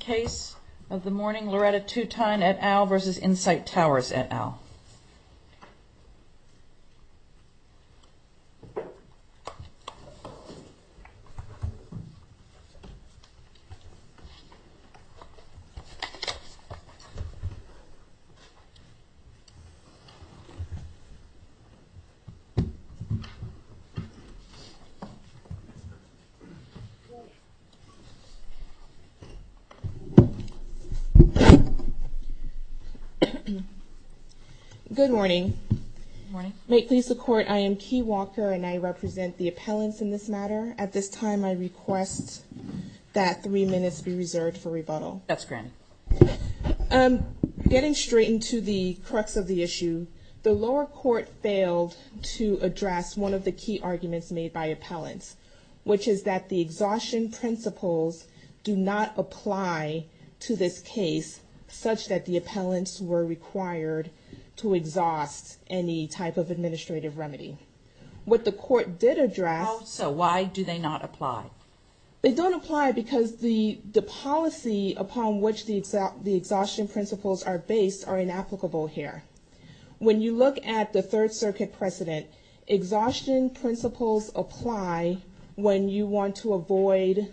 case of the morning, Loretta Tutein et al. v. Insite Towers et al. Good morning. May it please the Court, I am Key Walker and I represent the appellants in this matter. At this time, I request that three minutes be reserved for rebuttal. Getting straight into the crux of the issue, the lower court failed to address one of the key arguments made by appellants, which is that the exhaustion principles do not apply to this case such that the appellants were required to exhaust any type of administrative remedy. What the Court did address... So why do they not apply? They don't apply because the policy upon which the exhaustion principles are based are inapplicable here. When you look at the Third Circuit precedent, exhaustion principles apply when you want to avoid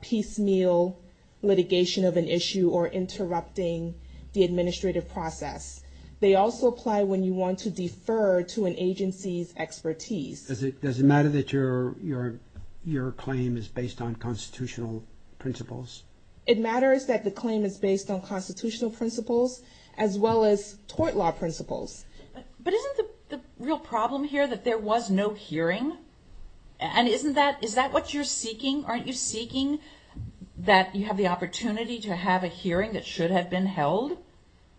piecemeal litigation of an issue or interrupting the administrative process. They also apply when you want to defer to an agency's expertise. Does it matter that your claim is based on constitutional principles? It matters that the claim is based on constitutional principles as well as tort law principles. But isn't the real problem here that there was no hearing? And isn't that, is that what you're seeking? Aren't you seeking that you have the opportunity to have a hearing that should have been held?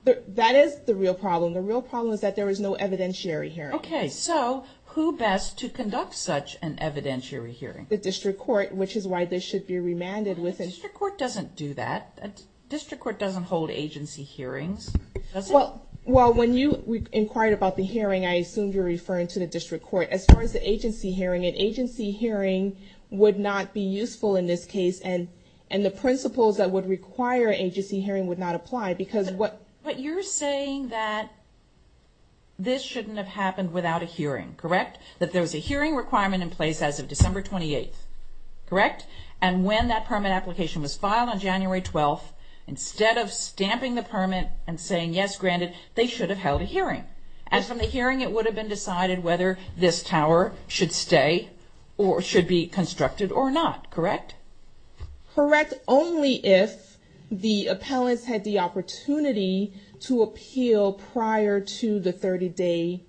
That is the real problem. The real problem is that there was no evidentiary hearing. Okay, so who best to conduct such an evidentiary hearing? The District Court, which is why this should be remanded within... The District Court doesn't do that. The District Court doesn't hold agency hearings, does it? Well, when you inquired about the hearing, I assumed you were referring to the District Court. As far as the agency hearing, an agency hearing would not be useful in this case. And the principles that would require an agency hearing would not apply because what... But you're saying that this shouldn't have happened without a hearing, correct? That there was a hearing requirement in place as of December 28th, correct? And when that permit application was filed on January 12th, instead of stamping the permit and saying, yes, granted, they should have held a hearing. As from the hearing, it would have been decided whether this tower should stay or should be constructed or not, correct? Correct, only if the appellants had the opportunity to appeal prior to the 30-day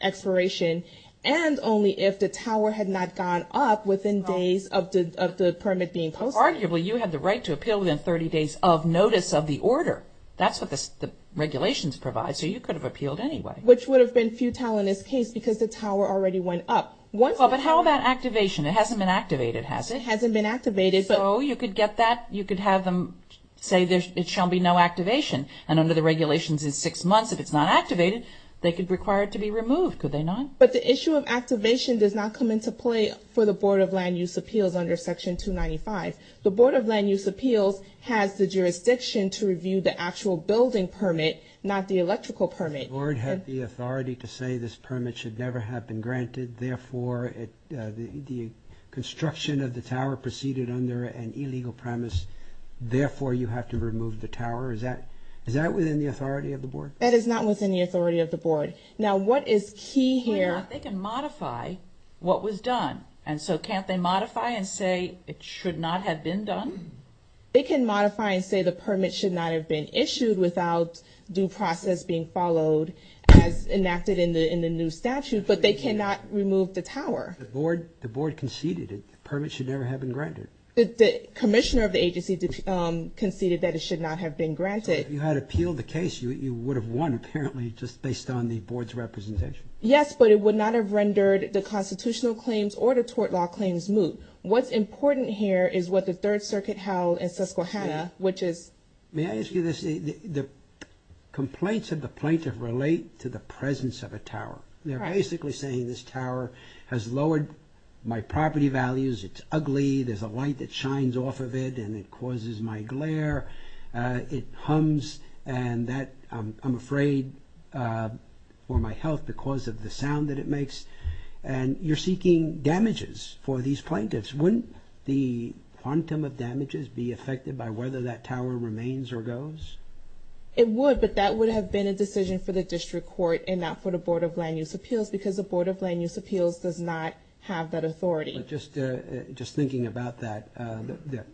expiration and only if the tower had not gone up within days of the permit being posted. Arguably, you had the right to appeal within 30 days of notice of the order. That's what the regulations provide, so you could have appealed anyway. Which would have been futile in this case because the tower already went up. Well, but how about activation? It hasn't been activated, has it? It hasn't been activated. So you could get that, you could have them say there shall be no activation. And under the regulations, it's six months. If it's not activated, they could require it to be removed, could they not? But the issue of activation does not come into play for the Board of Land Use Appeals under Section 295. The Board of Land Use Appeals has the jurisdiction to review the actual building permit, not the electrical permit. Does the Board have the authority to say this permit should never have been granted, therefore the construction of the tower proceeded under an illegal premise, therefore you have to remove the tower? Is that within the authority of the Board? That is not within the authority of the Board. Now, what is key here... They can modify what was done, and so can't they modify and say it should not have been done? They can modify and say the permit should not have been issued without due process being followed as enacted in the new statute, but they cannot remove the tower. The Board conceded that the permit should never have been granted. The commissioner of the agency conceded that it should not have been granted. If you had appealed the case, you would have won, apparently, just based on the Board's representation. Yes, but it would not have rendered the constitutional claims or the tort law claims moot. What's important here is what the Third Circuit held in Susquehanna, which is... May I ask you this? The complaints of the plaintiff relate to the presence of a tower. They're basically saying this tower has lowered my property values, it's ugly, there's a light that shines off of it, and it causes my glare, it hums, and I'm afraid for my health because of the sound that it makes. You're seeking damages for these plaintiffs. Wouldn't the quantum of damages be affected by whether that tower remains or goes? It would, but that would have been a decision for the district court and not for the Board of Land Use Appeals because the Board of Land Use Appeals does not have that authority. Just thinking about that, the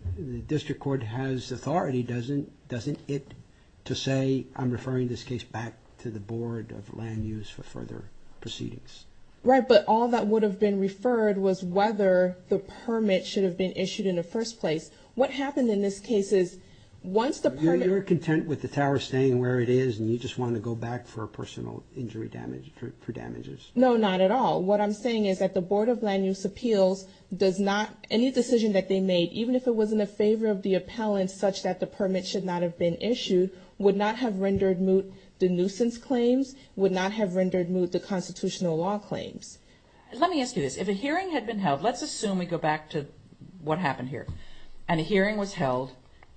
district court has authority, doesn't it, to say, I'm referring this case back to the Board of Land Use for further proceedings? Right, but all that would have been referred was whether the permit should have been issued in the first place. What happened in this case is once the permit... You're content with the tower staying where it is and you just want to go back for personal injury damage, for damages. No, not at all. What I'm saying is that the Board of Land Use Appeals does not, any decision that they made, even if it was in the favor of the appellant such that the permit should not have been issued, would not have rendered moot the nuisance claims, would not have rendered moot the constitutional law claims. Let me ask you this. If a hearing had been held, let's assume we go back to what happened here, and a hearing was held,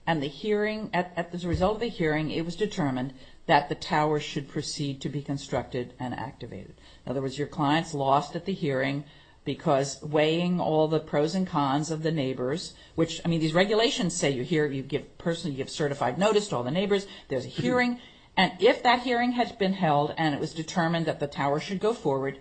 and as a result of the hearing, it was determined that the tower was your client's lost at the hearing because weighing all the pros and cons of the neighbors, which, I mean, these regulations say you give certified notice to all the neighbors, there's a hearing, and if that hearing had been held and it was determined that the tower should go forward,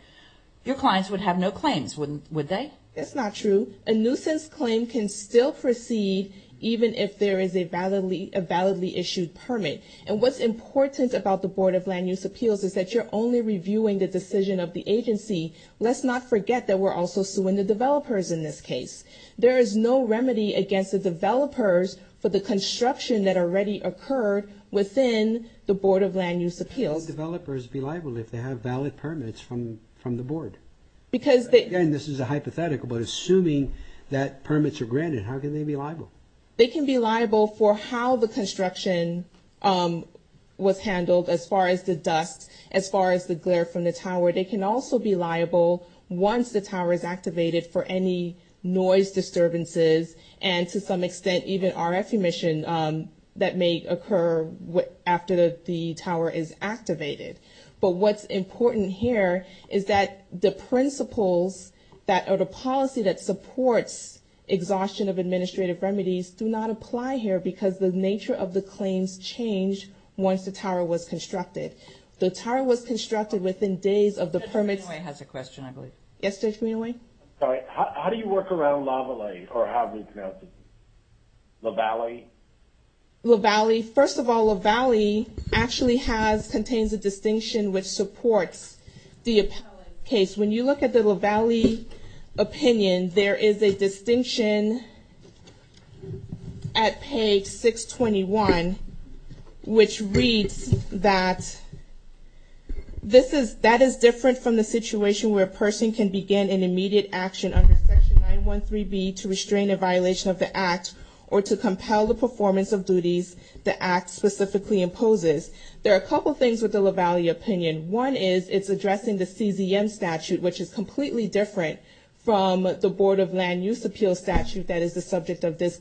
your clients would have no claims, wouldn't they? That's not true. A nuisance claim can still proceed even if there is a validly issued permit, and what's important about the Board of Land Use Appeals is that you're only reviewing the decision of the agency. Let's not forget that we're also suing the developers in this case. There is no remedy against the developers for the construction that already occurred within the Board of Land Use Appeals. How can the developers be liable if they have valid permits from the Board? Because they... Again, this is a hypothetical, but assuming that permits are granted, how can they be liable? They can be liable for how the construction was handled as far as the dust, as far as the glare from the tower. They can also be liable once the tower is activated for any noise disturbances and, to some extent, even RF emission that may occur after the tower is activated. But what's important here is that the principles that are the policy that supports exhaustion of administrative remedies do not apply here because the nature of the permit is to be adopted within days of the permit's... Judge Greenaway has a question, I believe. Yes, Judge Greenaway? Sorry, how do you work around Lavalie, or how do you pronounce it? Lavalie? Lavalie. First of all, Lavalie actually has, contains a distinction which supports the appellate case. When you look at the Lavalie opinion, there is a distinction at page 621 which reads that this is, that is different from the situation where a person can begin an immediate action under section 913B to restrain a violation of the act or to compel the performance of duties the act specifically imposes. There are a couple of things with the Lavalie opinion. One is it's addressing the CZM statute, which is completely different from the Board of Land Use Appeals statute that is the subject of this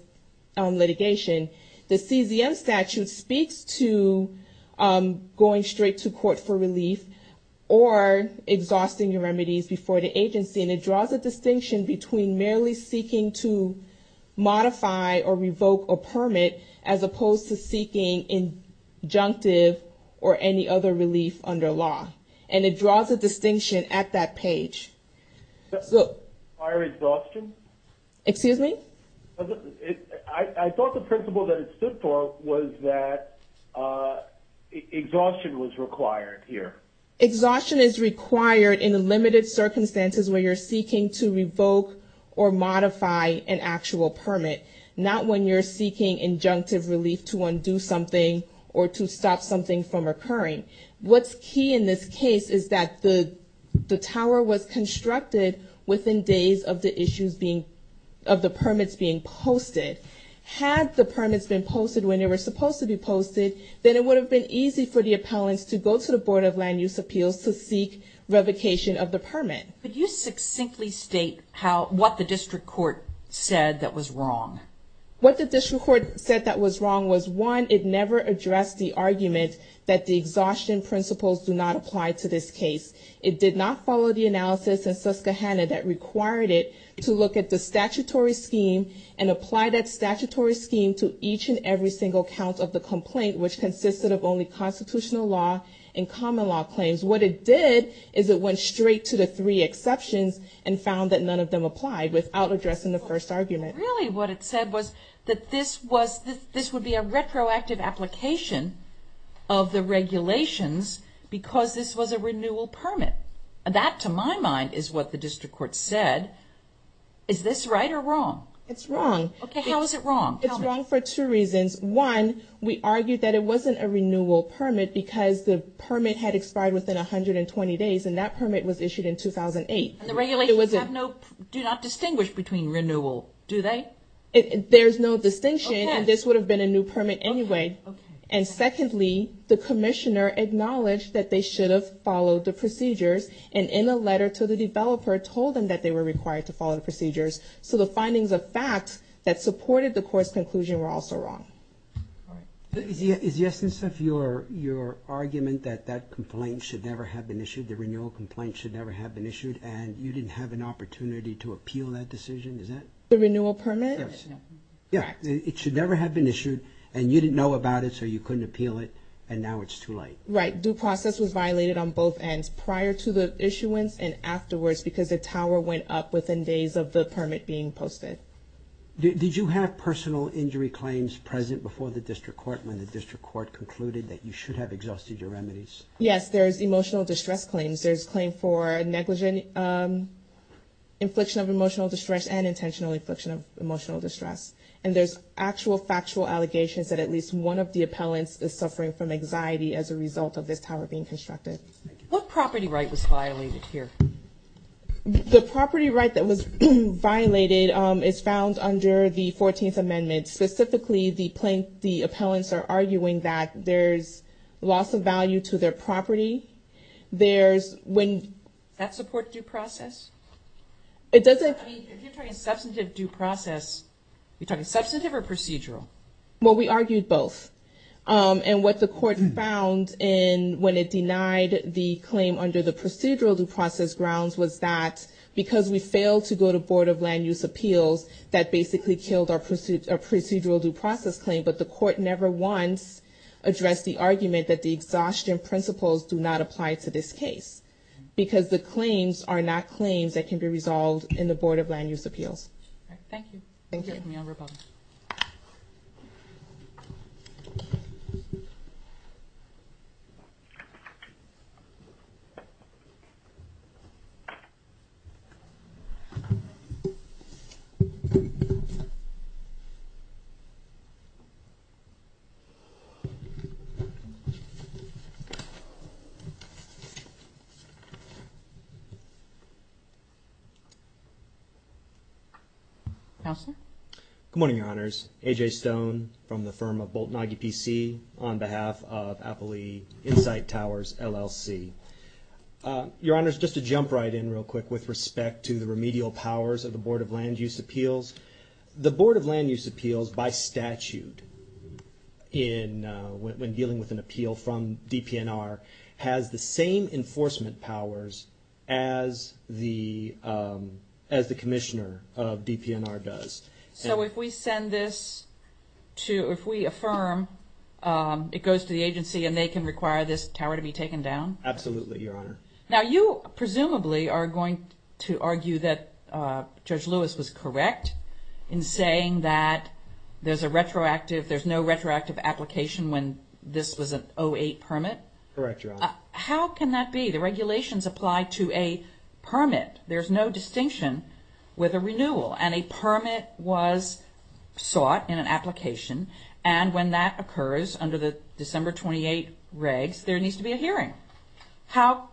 litigation. The CZM statute speaks to going straight to court for relief or exhausting your remedies before the agency, and it draws a distinction between merely seeking to modify or revoke a permit as opposed to seeking injunctive or any other relief under law. And it draws a distinction at that page. So... Fire exhaustion? Excuse me? I thought the principle that it stood for was that exhaustion was required here. Exhaustion is required in limited circumstances where you're seeking to revoke or modify an actual permit, not when you're seeking injunctive relief to undo something or to stop something from occurring. What's key in this case is that the tower was constructed within days of the issues being... of the permits being posted. Had the permits been posted when they were supposed to be posted, then it would have been easy for the appellants to go to the Board of Land Use Appeals to seek revocation of the permit. Could you succinctly state how... what the district court said that was wrong? What the district court said that was wrong was, one, it never addressed the argument that the exhaustion principles do not apply to this case. It did not follow the analysis in Susquehanna that required it to look at the statutory scheme and apply that statutory scheme to each and every single count of the complaint, which consisted of only constitutional law and common law claims. What it did is it went straight to the three exceptions and found that none of them applied without addressing the first argument. Really what it said was that this was... this would be a retroactive application of the is what the district court said. Is this right or wrong? It's wrong. Okay, how is it wrong? It's wrong for two reasons. One, we argued that it wasn't a renewal permit because the permit had expired within 120 days and that permit was issued in 2008. And the regulations have no... do not distinguish between renewal, do they? There's no distinction. Okay. And this would have been a new permit anyway. Okay. And secondly, the commissioner acknowledged that they should have followed the procedures and in a letter to the developer told them that they were required to follow the procedures. So the findings of facts that supported the court's conclusion were also wrong. All right. Is the essence of your argument that that complaint should never have been issued, the renewal complaint should never have been issued, and you didn't have an opportunity to appeal that decision? Is that... The renewal permit? Yes. Correct. It should never have been issued and you didn't know about it so you couldn't appeal it and now it's too late. Right. Due process was violated on both ends, prior to the issuance and afterwards because the tower went up within days of the permit being posted. Did you have personal injury claims present before the district court when the district court concluded that you should have exhausted your remedies? Yes. There's emotional distress claims. There's claim for negligent infliction of emotional distress and intentional infliction of emotional distress. And there's actual factual allegations that at least one of the appellants is suffering from anxiety as a result of this tower being constructed. What property right was violated here? The property right that was violated is found under the 14th Amendment. Specifically the plaintiff, the appellants are arguing that there's loss of value to their property. There's when... That support due process? It doesn't... If you're talking substantive due process, you're talking substantive or procedural? Well, we argued both. And what the court found when it denied the claim under the procedural due process grounds was that because we failed to go to Board of Land Use Appeals, that basically killed our procedural due process claim. But the court never once addressed the argument that the exhaustion principles do not apply to this case because the claims are not claims that can be resolved in the Board of Land Use Appeals. All right. Thank you. Thank you. We can view our vote. Council? Good morning, Your Honors. A.J. Stone from the firm of Bolt & Nagy, P.C. on behalf of Appli Insight Towers, LLC. Your Honors, just to jump right in real quick with respect to the remedial powers of the Board of Land Use Appeals. The Board of Land Use Appeals, by statute, when dealing with an appeal from DPNR, has the same enforcement powers as the commissioner of DPNR does. So if we send this to, if we affirm, it goes to the agency and they can require this tower to be taken down? Absolutely, Your Honor. Now, you, presumably, are going to argue that Judge Lewis was correct in saying that there's a retroactive, there's no retroactive application when this was an 08 permit? Correct, Your Honor. How can that be? The regulations apply to a permit. There's no distinction with a renewal, and a permit was sought in an application, and when that occurs under the December 28 regs, there needs to be a hearing. How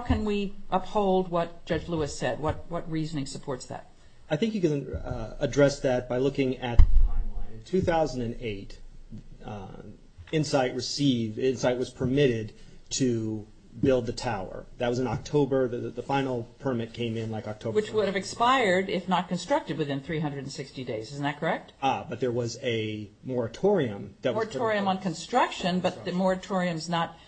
can we uphold what Judge Lewis said? What reasoning supports that? I think you can address that by looking at the timeline in 2008. Insight received, Insight was permitted to build the tower. That was in October. The final permit came in like October. Which would have expired if not constructed within 360 days, isn't that correct? Ah, but there was a moratorium. Moratorium on construction, but the moratorium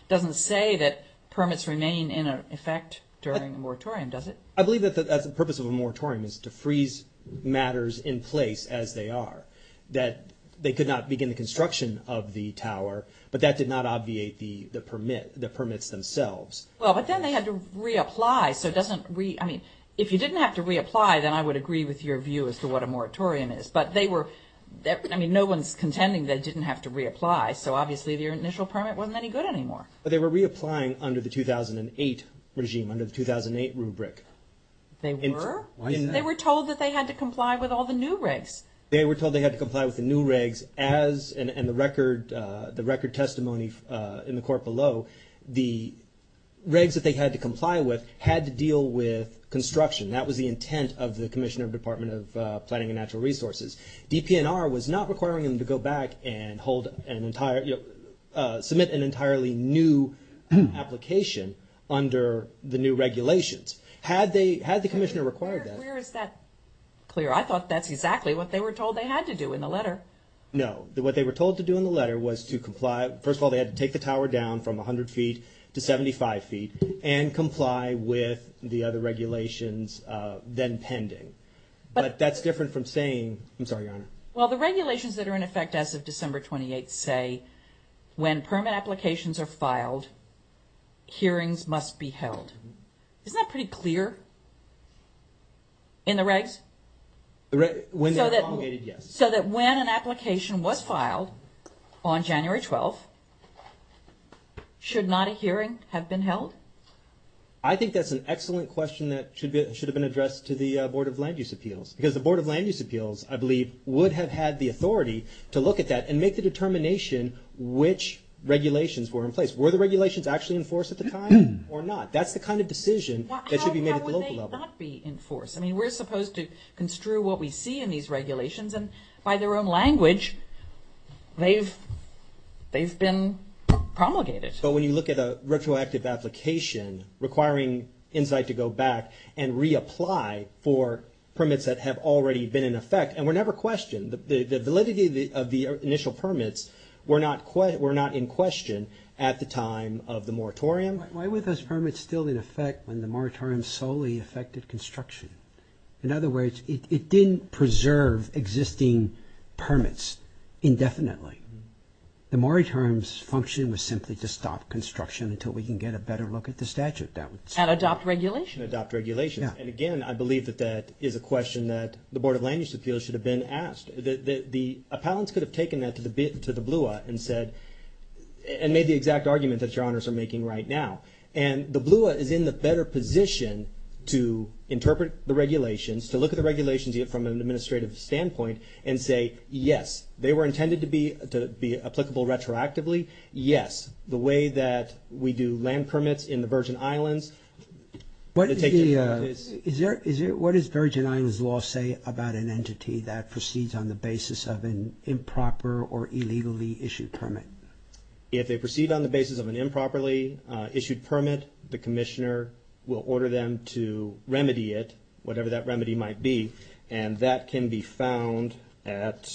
doesn't say that permits remain in effect during a moratorium, does it? I believe that that's the purpose of a moratorium, is to freeze matters in place as they are. That they could not begin the construction of the tower, but that did not obviate the permits themselves. Well, but then they had to reapply, so it doesn't, I mean, if you didn't have to reapply then I would agree with your view as to what a moratorium is, but they were, I mean, no one's contending they didn't have to reapply, so obviously your initial permit wasn't any good anymore. But they were reapplying under the 2008 regime, under the 2008 rubric. They were? Why isn't that? They were told that they had to comply with all the new regs. They were told they had to comply with the new regs as, and the record testimony in the court below, the regs that they had to comply with had to deal with construction. That was the intent of the Commissioner of the Department of Planning and Natural Resources. DPNR was not requiring them to go back and hold an entire, submit an entirely new application under the new regulations. Had they, had the Commissioner required that? Where is that clear? I thought that's exactly what they were told they had to do in the letter. No. What they were told to do in the letter was to comply, first of all they had to take the tower down from 100 feet to 75 feet and comply with the other regulations then pending. But that's different from saying, I'm sorry, Your Honor. Well the regulations that are in effect as of December 28th say, when permit applications are filed, hearings must be held. Isn't that pretty clear in the regs? When they were promulgated, yes. So that when an application was filed on January 12th, should not a hearing have been held? I think that's an excellent question that should have been addressed to the Board of Land Use Appeals. Because the Board of Land Use Appeals, I believe, would have had the authority to look at that and make the determination which regulations were in place. Were the regulations actually in force at the time or not? That's the kind of decision that should be made at the local level. How would they not be in force? I mean, we're supposed to construe what we see in these regulations and by their own language they've been promulgated. But when you look at a retroactive application requiring Insight to go back and reapply for permits that have already been in effect, and were never questioned, the validity of the initial permits were not in question at the time of the moratorium. Why were those permits still in effect when the moratorium solely affected construction? In other words, it didn't preserve existing permits indefinitely. The moratorium's function was simply to stop construction until we can get a better look at the statute. That would stop. And adopt regulations? And adopt regulations. And again, I believe that that is a question that the Board of Land Use Appeals should have been asked. The appellants could have taken that to the blue and said, and made the exact argument that Your Honors are making right now. And the BLUA is in the better position to interpret the regulations, to look at the regulations from an administrative standpoint and say, yes, they were intended to be applicable retroactively. Yes. The way that we do land permits in the Virgin Islands. What does Virgin Islands law say about an entity that proceeds on the basis of an improper or illegally issued permit? If they proceed on the basis of an improperly issued permit, the commissioner will order them to remedy it, whatever that remedy might be. And that can be found at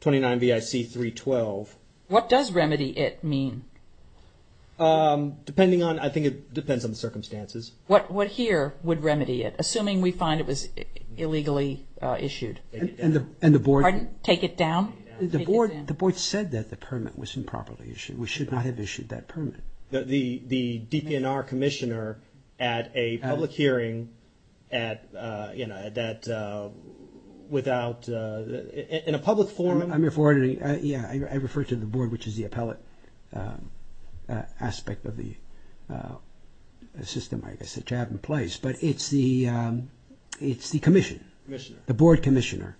29 BIC 312. What does remedy it mean? Depending on, I think it depends on the circumstances. What here would remedy it, assuming we find it was illegally issued? And the Board. Pardon? Take it down? The Board said that the permit was improperly issued. We should not have issued that permit. The DPNR commissioner at a public hearing at, you know, that without, in a public forum. I'm referring, yeah, I refer to the Board, which is the appellate aspect of the system, I guess, which I have in place, but it's the, it's the commission, the Board commissioner.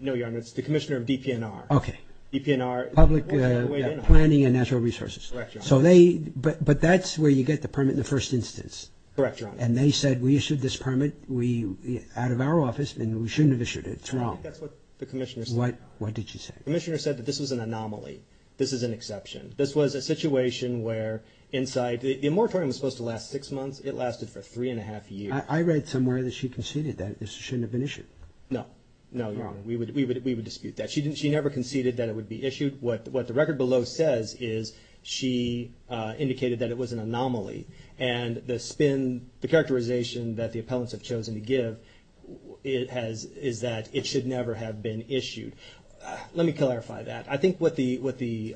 No, Your Honor, it's the commissioner of DPNR. Okay. DPNR. Public Planning and Natural Resources. Correct, Your Honor. So they, but, but that's where you get the permit in the first instance. Correct, Your Honor. And they said, we issued this permit, we, out of our office, and we shouldn't have issued it. It's wrong. That's what the commissioner said. What, what did she say? The commissioner said that this was an anomaly. This is an exception. This was a situation where inside, the moratorium was supposed to last six months. It lasted for three and a half years. I read somewhere that she conceded that this shouldn't have been issued. No. No, Your Honor. We would, we would, we would dispute that. She didn't, she never conceded that it would be issued. What, what the record below says is she indicated that it was an anomaly and the spin, the characterization that the appellants have chosen to give, it has, is that it should never have been issued. Let me clarify that. I think what the, what the,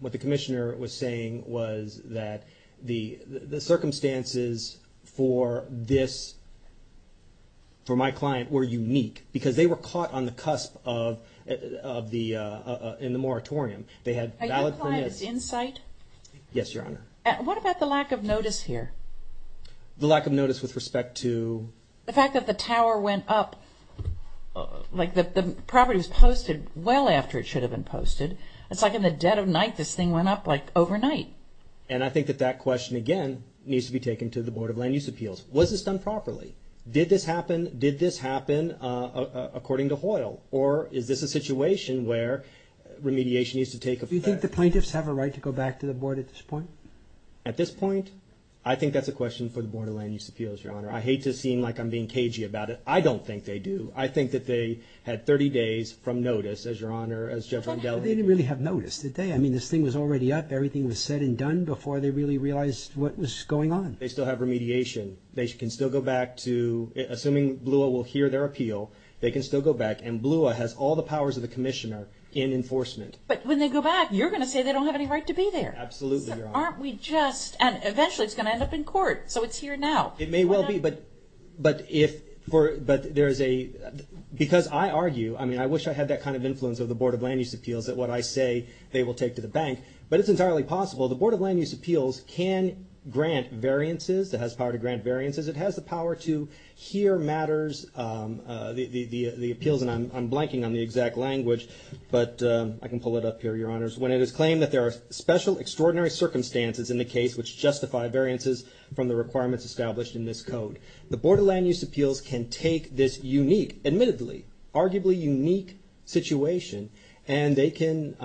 what the commissioner was saying was that the, the circumstances for this, for my client, were unique because they were caught on the cusp of, of the, in the moratorium. They had valid permits. Are your clients in sight? Yes, Your Honor. What about the lack of notice here? The lack of notice with respect to? The fact that the tower went up, like the property was posted well after it should have been posted. It's like in the dead of night, this thing went up like overnight. And I think that that question again, needs to be taken to the Board of Land Use Appeals. Was this done properly? Did this happen? Did this happen according to Hoyle or is this a situation where remediation needs to take effect? Do you think the plaintiffs have a right to go back to the board at this point? At this point? I think that's a question for the Board of Land Use Appeals, Your Honor. I hate to seem like I'm being cagey about it. I don't think they do. I think that they had 30 days from notice as Your Honor, as Judge McDowell indicated. They didn't really have notice, did they? I mean, this thing was already up. Everything was said and done before they really realized what was going on. They still have remediation. They can still go back to, assuming BLUA will hear their appeal, they can still go back. And BLUA has all the powers of the commissioner in enforcement. But when they go back, you're going to say they don't have any right to be there. Absolutely, Your Honor. Aren't we just, and eventually it's going to end up in court. So it's here now. It may well be, but if, for, but there is a, because I argue, I mean, I wish I had that kind of influence of the Board of Land Use Appeals that what I say, they will take to the bank. But it's entirely possible. The Board of Land Use Appeals can grant variances, it has power to grant variances. It has the power to hear matters, the appeals, and I'm blanking on the exact language. But I can pull it up here, Your Honors. When it is claimed that there are special extraordinary circumstances in the case which justify variances from the requirements established in this code. The Board of Land Use Appeals can take this unique, admittedly, arguably unique situation and they can,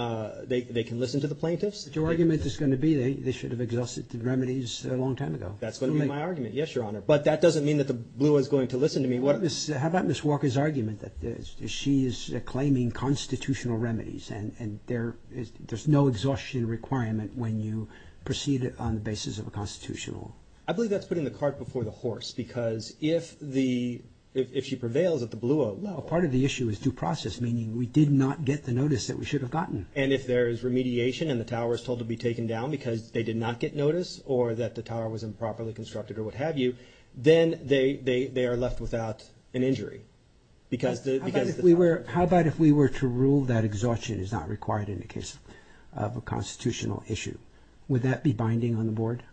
they can listen to the plaintiffs. Your argument is going to be they should have exhausted the remedies a long time ago. That's going to be my argument. Yes, Your Honor. But that doesn't mean that the BLUA is going to listen to me. How about Ms. Walker's argument that she is claiming constitutional remedies and there's no exhaustion requirement when you proceed on the basis of a constitutional. I believe that's putting the cart before the horse because if the, if she prevails at the BLUA level. Well, part of the issue is due process, meaning we did not get the notice that we should have gotten. And if there is remediation and the tower is told to be taken down because they did not get notice or that the tower was improperly constructed or what have you, then they are left without an injury because the tower. How about if we were to rule that exhaustion is not required in the case of a constitutional issue? Would that be binding on the board?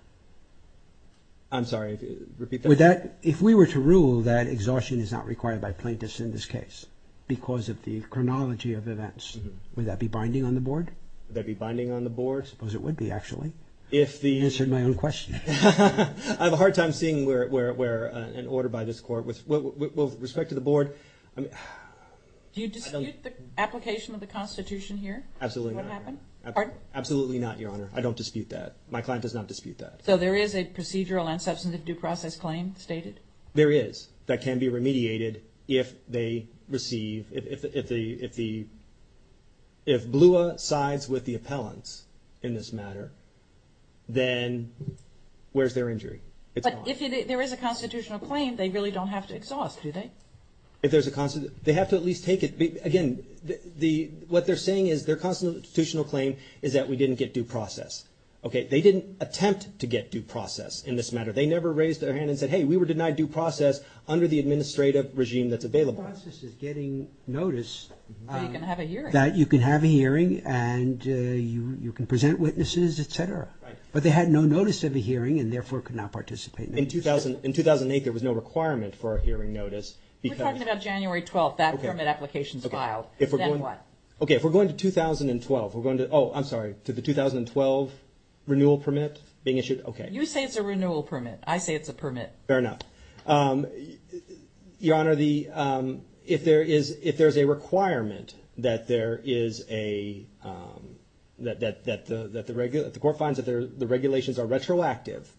I'm sorry. Repeat that. Would that, if we were to rule that exhaustion is not required by plaintiffs in this case because of the chronology of events, would that be binding on the board? Would that be binding on the board? I suppose it would be, actually. If the... Answered my own question. I have a hard time seeing where an order by this court with, with respect to the board. Do you dispute the application of the constitution here? Absolutely not. What happened? Pardon? Absolutely not, Your Honor. I don't dispute that. My client does not dispute that. So there is a procedural and substantive due process claim stated? There is. That can be remediated if they receive, if the, if the, if BLUA sides with the appellants in this matter, then where's their injury? It's gone. But if there is a constitutional claim, they really don't have to exhaust, do they? If there's a, they have to at least take it, again, the, what they're saying is their constitutional claim is that we didn't get due process. Okay. They didn't attempt to get due process in this matter. They never raised their hand and said, hey, we were denied due process under the administrative regime that's available. Due process is getting notice. That you can have a hearing. That you can have a hearing and you, you can present witnesses, et cetera. But they had no notice of a hearing and therefore could not participate in the hearing. In 2000, in 2008, there was no requirement for a hearing notice because... We're talking about January 12th, that permit application is filed. Then what? Okay. If we're going to 2012, we're going to, oh, I'm sorry, to the 2012 renewal permit being issued. Okay. You say it's a renewal permit. I say it's a permit. Fair enough. Your Honor, the, if there is, if there's a requirement that there is a, that the court finds that the regulations are retroactive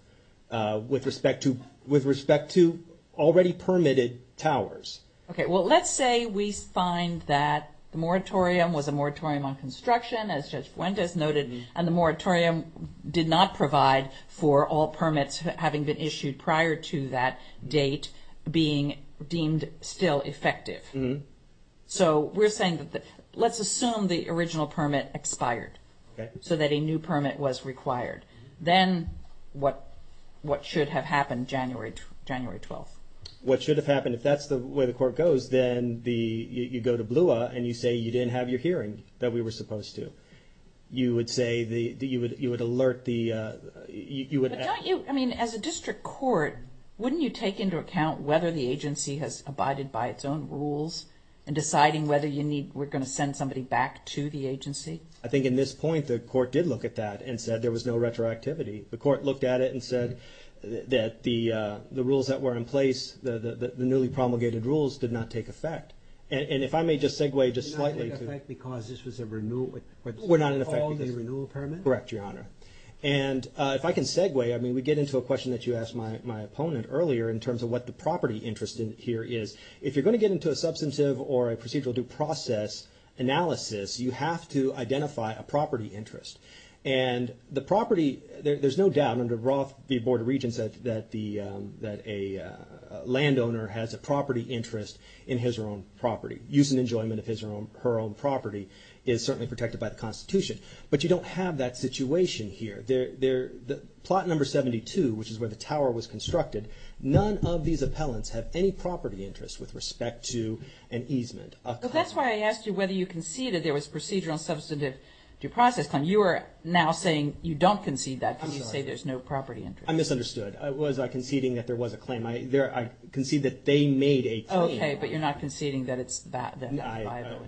with respect to, with respect to already permitted towers. Okay. Well, let's say we find that the moratorium was a moratorium on construction, as Judge Fuentes noted, and the moratorium did not provide for all permits having been issued prior to that date being deemed still effective. So we're saying that the, let's assume the original permit expired so that a new permit was required. Then what, what should have happened January, January 12th? What should have happened? If that's the way the court goes, then the, you go to BLUA and you say, you didn't have your hearing that we were supposed to. You would say the, you would, you would alert the, you would. Don't you, I mean, as a district court, wouldn't you take into account whether the agency has abided by its own rules and deciding whether you need, we're going to send somebody back to the agency? I think in this point, the court did look at that and said there was no retroactivity. The court looked at it and said that the, the rules that were in place, the newly promulgated rules did not take effect. And if I may just segue just slightly to- Were not in effect because this was a renewal? Were not in effect because- All the renewal permits? Correct, Your Honor. And if I can segue, I mean, we get into a question that you asked my opponent earlier in terms of what the property interest in here is. If you're going to get into a substantive or a procedural due process analysis, you have to identify a property interest. And the property, there's no doubt under Roth v. Board of Regents that a landowner has a property interest in his or her own property. Use and enjoyment of his or her own property is certainly protected by the Constitution. But you don't have that situation here. Plot number 72, which is where the tower was constructed, none of these appellants have any property interest with respect to an easement. So that's why I asked you whether you conceded there was procedural substantive due process claim. You are now saying you don't concede that because you say there's no property interest. I misunderstood. I was conceding that there was a claim. I concede that they made a claim. Okay. But you're not conceding that it's-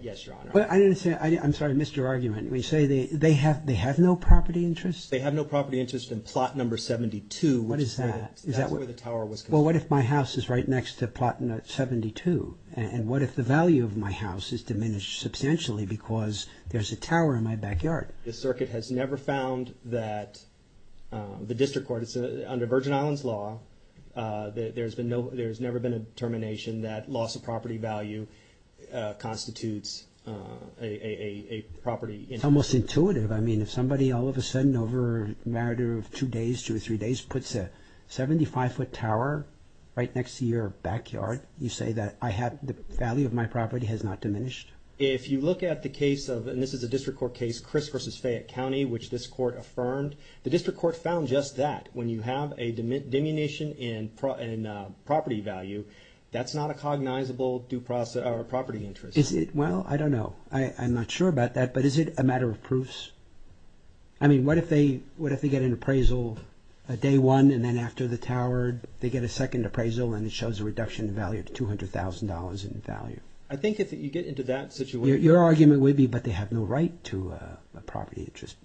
Yes, Your Honor. But I didn't say, I'm sorry, I missed your argument. We say they have no property interest? They have no property interest in plot number 72, which is where the tower was constructed. Well, what if my house is right next to plot 72? And what if the value of my house is diminished substantially because there's a tower in my house? The circuit has never found that the district court, under Virgin Islands law, there's never been a determination that loss of property value constitutes a property interest. It's almost intuitive. I mean, if somebody all of a sudden, over a matter of two days, two or three days, puts a 75-foot tower right next to your backyard, you say that I have the value of my property has not diminished? If you look at the case of, and this is a district court case, Chris v. Fayette County, which this court affirmed, the district court found just that. When you have a diminution in property value, that's not a cognizable property interest. Is it? Well, I don't know. I'm not sure about that, but is it a matter of proofs? I mean, what if they get an appraisal day one, and then after the tower, they get a second appraisal, and it shows a reduction in value to $200,000 in value? I think if you get into that situation... Your argument would be, but they have no right to a property interest.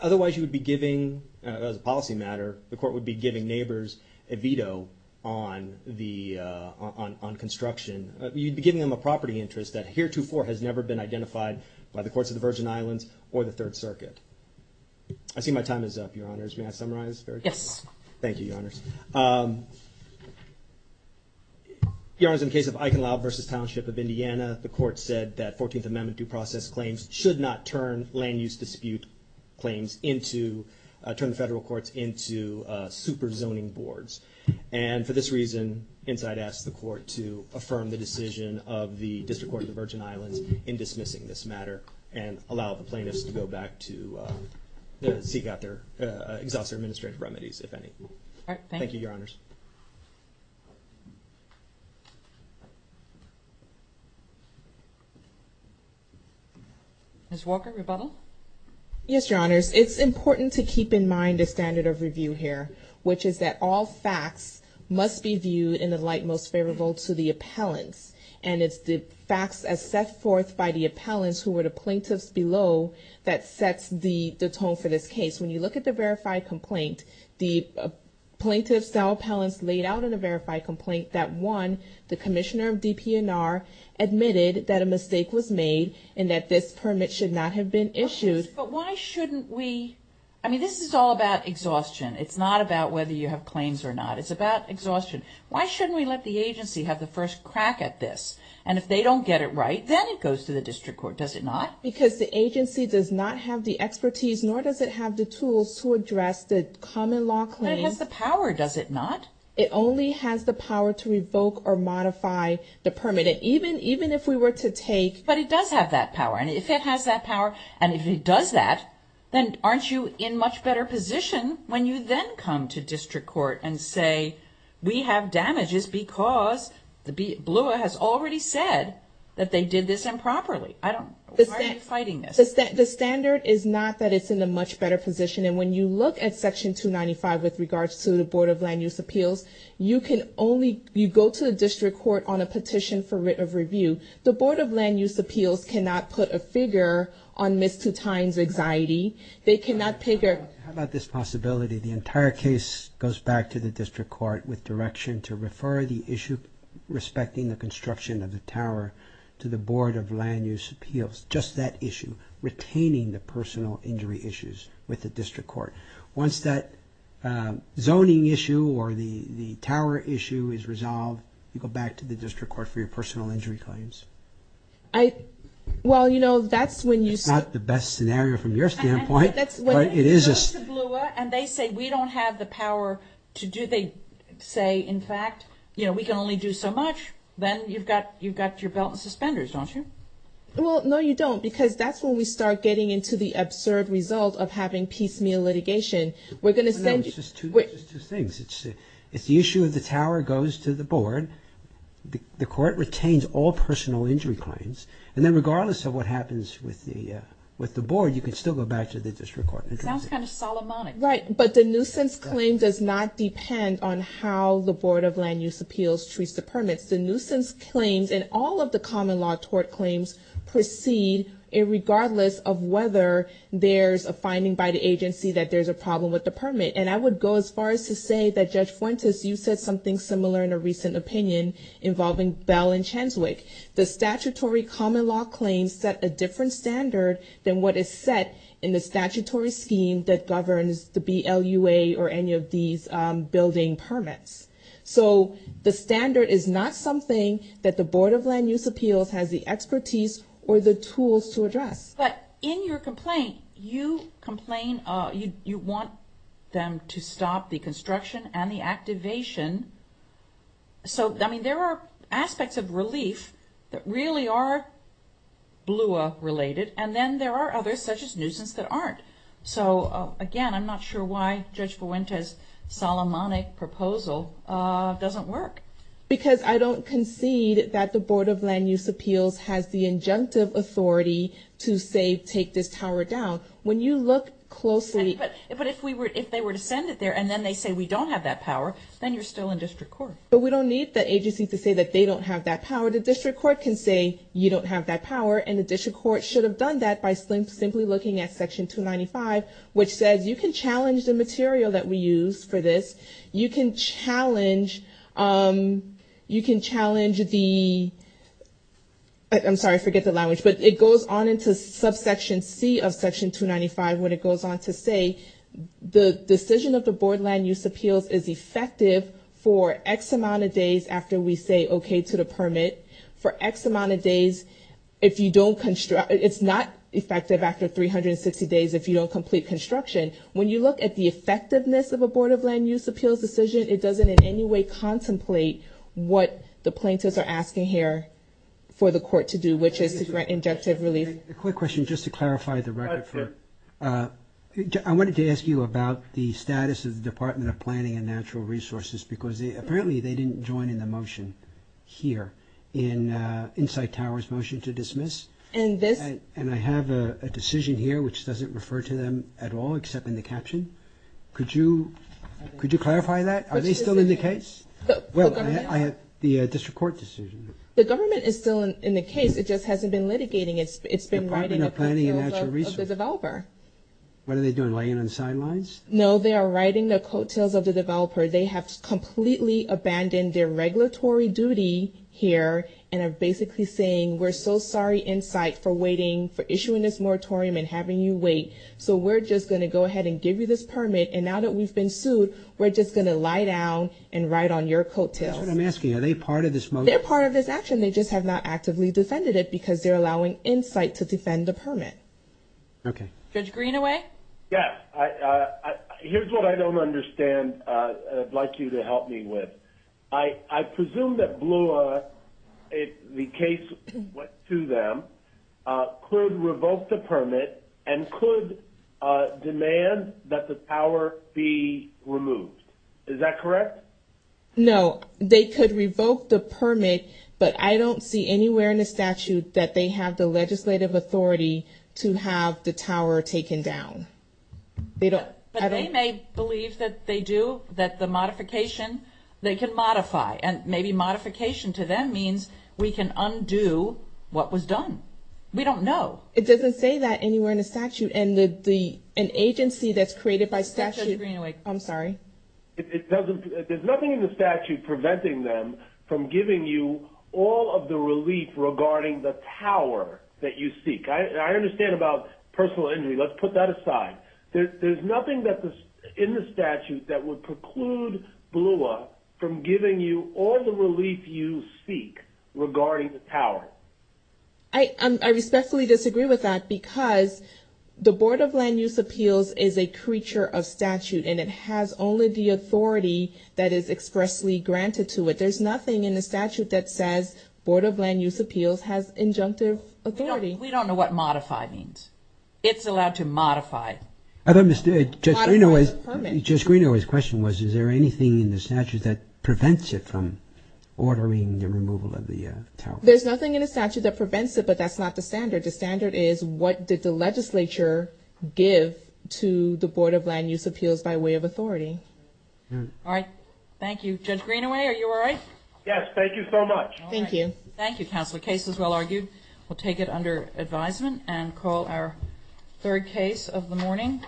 Otherwise, you would be giving, as a policy matter, the court would be giving neighbors a veto on construction. You'd be giving them a property interest that heretofore has never been identified by the courts of the Virgin Islands or the Third Circuit. I see my time is up, Your Honors. May I summarize? Yes. Thank you, Your Honors. Your Honors, in the case of Eichenlau versus Township of Indiana, the court said that 14th Amendment due process claims should not turn land use dispute claims into, turn the federal courts into super zoning boards. And for this reason, Insight asked the court to affirm the decision of the District Court of the Virgin Islands in dismissing this matter, and allow the plaintiffs to go back to seek out their... Exhaust their administrative remedies, if any. Thank you, Your Honors. Ms. Walker, rebuttal? Yes, Your Honors. It's important to keep in mind the standard of review here, which is that all facts must be viewed in the light most favorable to the appellants. And it's the facts as set forth by the appellants, who were the plaintiffs below, that sets the tone for this case. When you look at the verified complaint, the plaintiffs, the appellants laid out in the verified complaint that one, the commissioner of DPNR admitted that a mistake was made, and that this permit should not have been issued. But why shouldn't we, I mean, this is all about exhaustion. It's not about whether you have claims or not. It's about exhaustion. Why shouldn't we let the agency have the first crack at this? And if they don't get it right, then it goes to the district court, does it not? Because the agency does not have the expertise, nor does it have the tools to address the common law claims. But it has the power, does it not? It only has the power to revoke or modify the permit, even if we were to take... But it does have that power. And if it has that power, and if it does that, then aren't you in much better position when you then come to district court and say, we have damages because the BLUA has already said that they did this improperly. I don't... Why are you fighting this? The standard is not that it's in a much better position, and when you look at Section 295 with regards to the Board of Land Use Appeals, you can only, you go to the district court on a petition for writ of review. The Board of Land Use Appeals cannot put a figure on Ms. Tutine's anxiety. They cannot pick a... How about this possibility? The entire case goes back to the district court with direction to refer the issue respecting the construction of the tower to the Board of Land Use Appeals. Just that issue. Retaining the personal injury issues with the district court. Once that zoning issue or the tower issue is resolved, you go back to the district court for your personal injury claims. I... Well, you know, that's when you... It's not the best scenario from your standpoint, but it is... When you go to the BLUA and they say, we don't have the power to do... Say, in fact, you know, we can only do so much, then you've got your belt and suspenders, don't you? Well, no, you don't, because that's when we start getting into the absurd result of having piecemeal litigation. We're going to send... No, it's just two things. It's the issue of the tower goes to the board. The court retains all personal injury claims, and then regardless of what happens with the board, you can still go back to the district court. It sounds kind of Solomonic. Right, but the nuisance claim does not depend on how the Board of Land Use Appeals treats the permits. The nuisance claims and all of the common law tort claims proceed regardless of whether there's a finding by the agency that there's a problem with the permit. And I would go as far as to say that, Judge Fuentes, you said something similar in a recent opinion involving Bell and Chanswick. The statutory common law claims set a different standard than what is set in the statutory scheme that governs the BLUA or any of these building permits. So the standard is not something that the Board of Land Use Appeals has the expertise or the tools to address. But in your complaint, you complain, you want them to stop the construction and the activation. So I mean, there are aspects of relief that really are BLUA related, and then there are others such as nuisance that aren't. So again, I'm not sure why Judge Fuentes' Solomonic proposal doesn't work. Because I don't concede that the Board of Land Use Appeals has the injunctive authority to say, take this tower down. When you look closely... But if they were to send it there and then they say we don't have that power, then you're still in district court. But we don't need the agency to say that they don't have that power. The district court can say you don't have that power, and the district court should have done that by simply looking at Section 295, which says you can challenge the material that we use for this. You can challenge the... I'm sorry, I forget the language, but it goes on into subsection C of Section 295 when it goes on to say the decision of the Board of Land Use Appeals is effective for X amount of days after we say okay to the permit. For X amount of days if you don't construct... It's not effective after 360 days if you don't complete construction. When you look at the effectiveness of a Board of Land Use Appeals decision, it doesn't in any way contemplate what the plaintiffs are asking here for the court to do, which is to grant injunctive relief. A quick question, just to clarify the record for... I wanted to ask you about the status of the Department of Planning and Natural Resources because apparently they didn't join in the motion here in Inside Tower's motion to dismiss. And I have a decision here which doesn't refer to them at all except in the caption. Could you clarify that? Are they still in the case? Well, I have the district court decision. The government is still in the case, it just hasn't been litigating it. It's been writing... Department of Planning and Natural Resources. ...of the developer. What are they doing, laying on the sidelines? No, they are writing the coattails of the developer. They have completely abandoned their regulatory duty here and are basically saying we're so sorry, Insight, for waiting, for issuing this moratorium and having you wait. So we're just going to go ahead and give you this permit. And now that we've been sued, we're just going to lie down and write on your coattails. That's what I'm asking. Are they part of this motion? They're part of this action. They just have not actively defended it because they're allowing Insight to defend the permit. Okay. Judge Greenaway? Yes. Here's what I don't understand and I'd like you to help me with. I presume that Bloor, if the case went to them, could revoke the permit and could demand that the tower be removed. Is that correct? No. They could revoke the permit, but I don't see anywhere in the statute that they have the legislative authority to have the tower taken down. But they may believe that they do, that the modification, they can modify. And maybe modification to them means we can undo what was done. We don't know. It doesn't say that anywhere in the statute. And an agency that's created by statute... Judge Greenaway. I'm sorry. There's nothing in the statute preventing them from giving you all of the relief regarding the tower that you seek. I understand about personal injury. Let's put that aside. There's nothing in the statute that would preclude Bloor from giving you all the relief you seek regarding the tower. I respectfully disagree with that because the Board of Land Use Appeals is a creature of statute and it has only the authority that is expressly granted to it. There's nothing in the statute that says Board of Land Use Appeals has injunctive authority. We don't know what modify means. It's allowed to modify. Judge Greenaway's question was, is there anything in the statute that prevents it from ordering the removal of the tower? There's nothing in the statute that prevents it, but that's not the standard. The standard is what did the legislature give to the Board of Land Use Appeals by way of authority. All right. Thank you. Judge Greenaway, are you all right? Yes. Thank you so much. Thank you. Thank you, Counselor. Case is well argued. We'll take it under advisement and call our third case of the morning.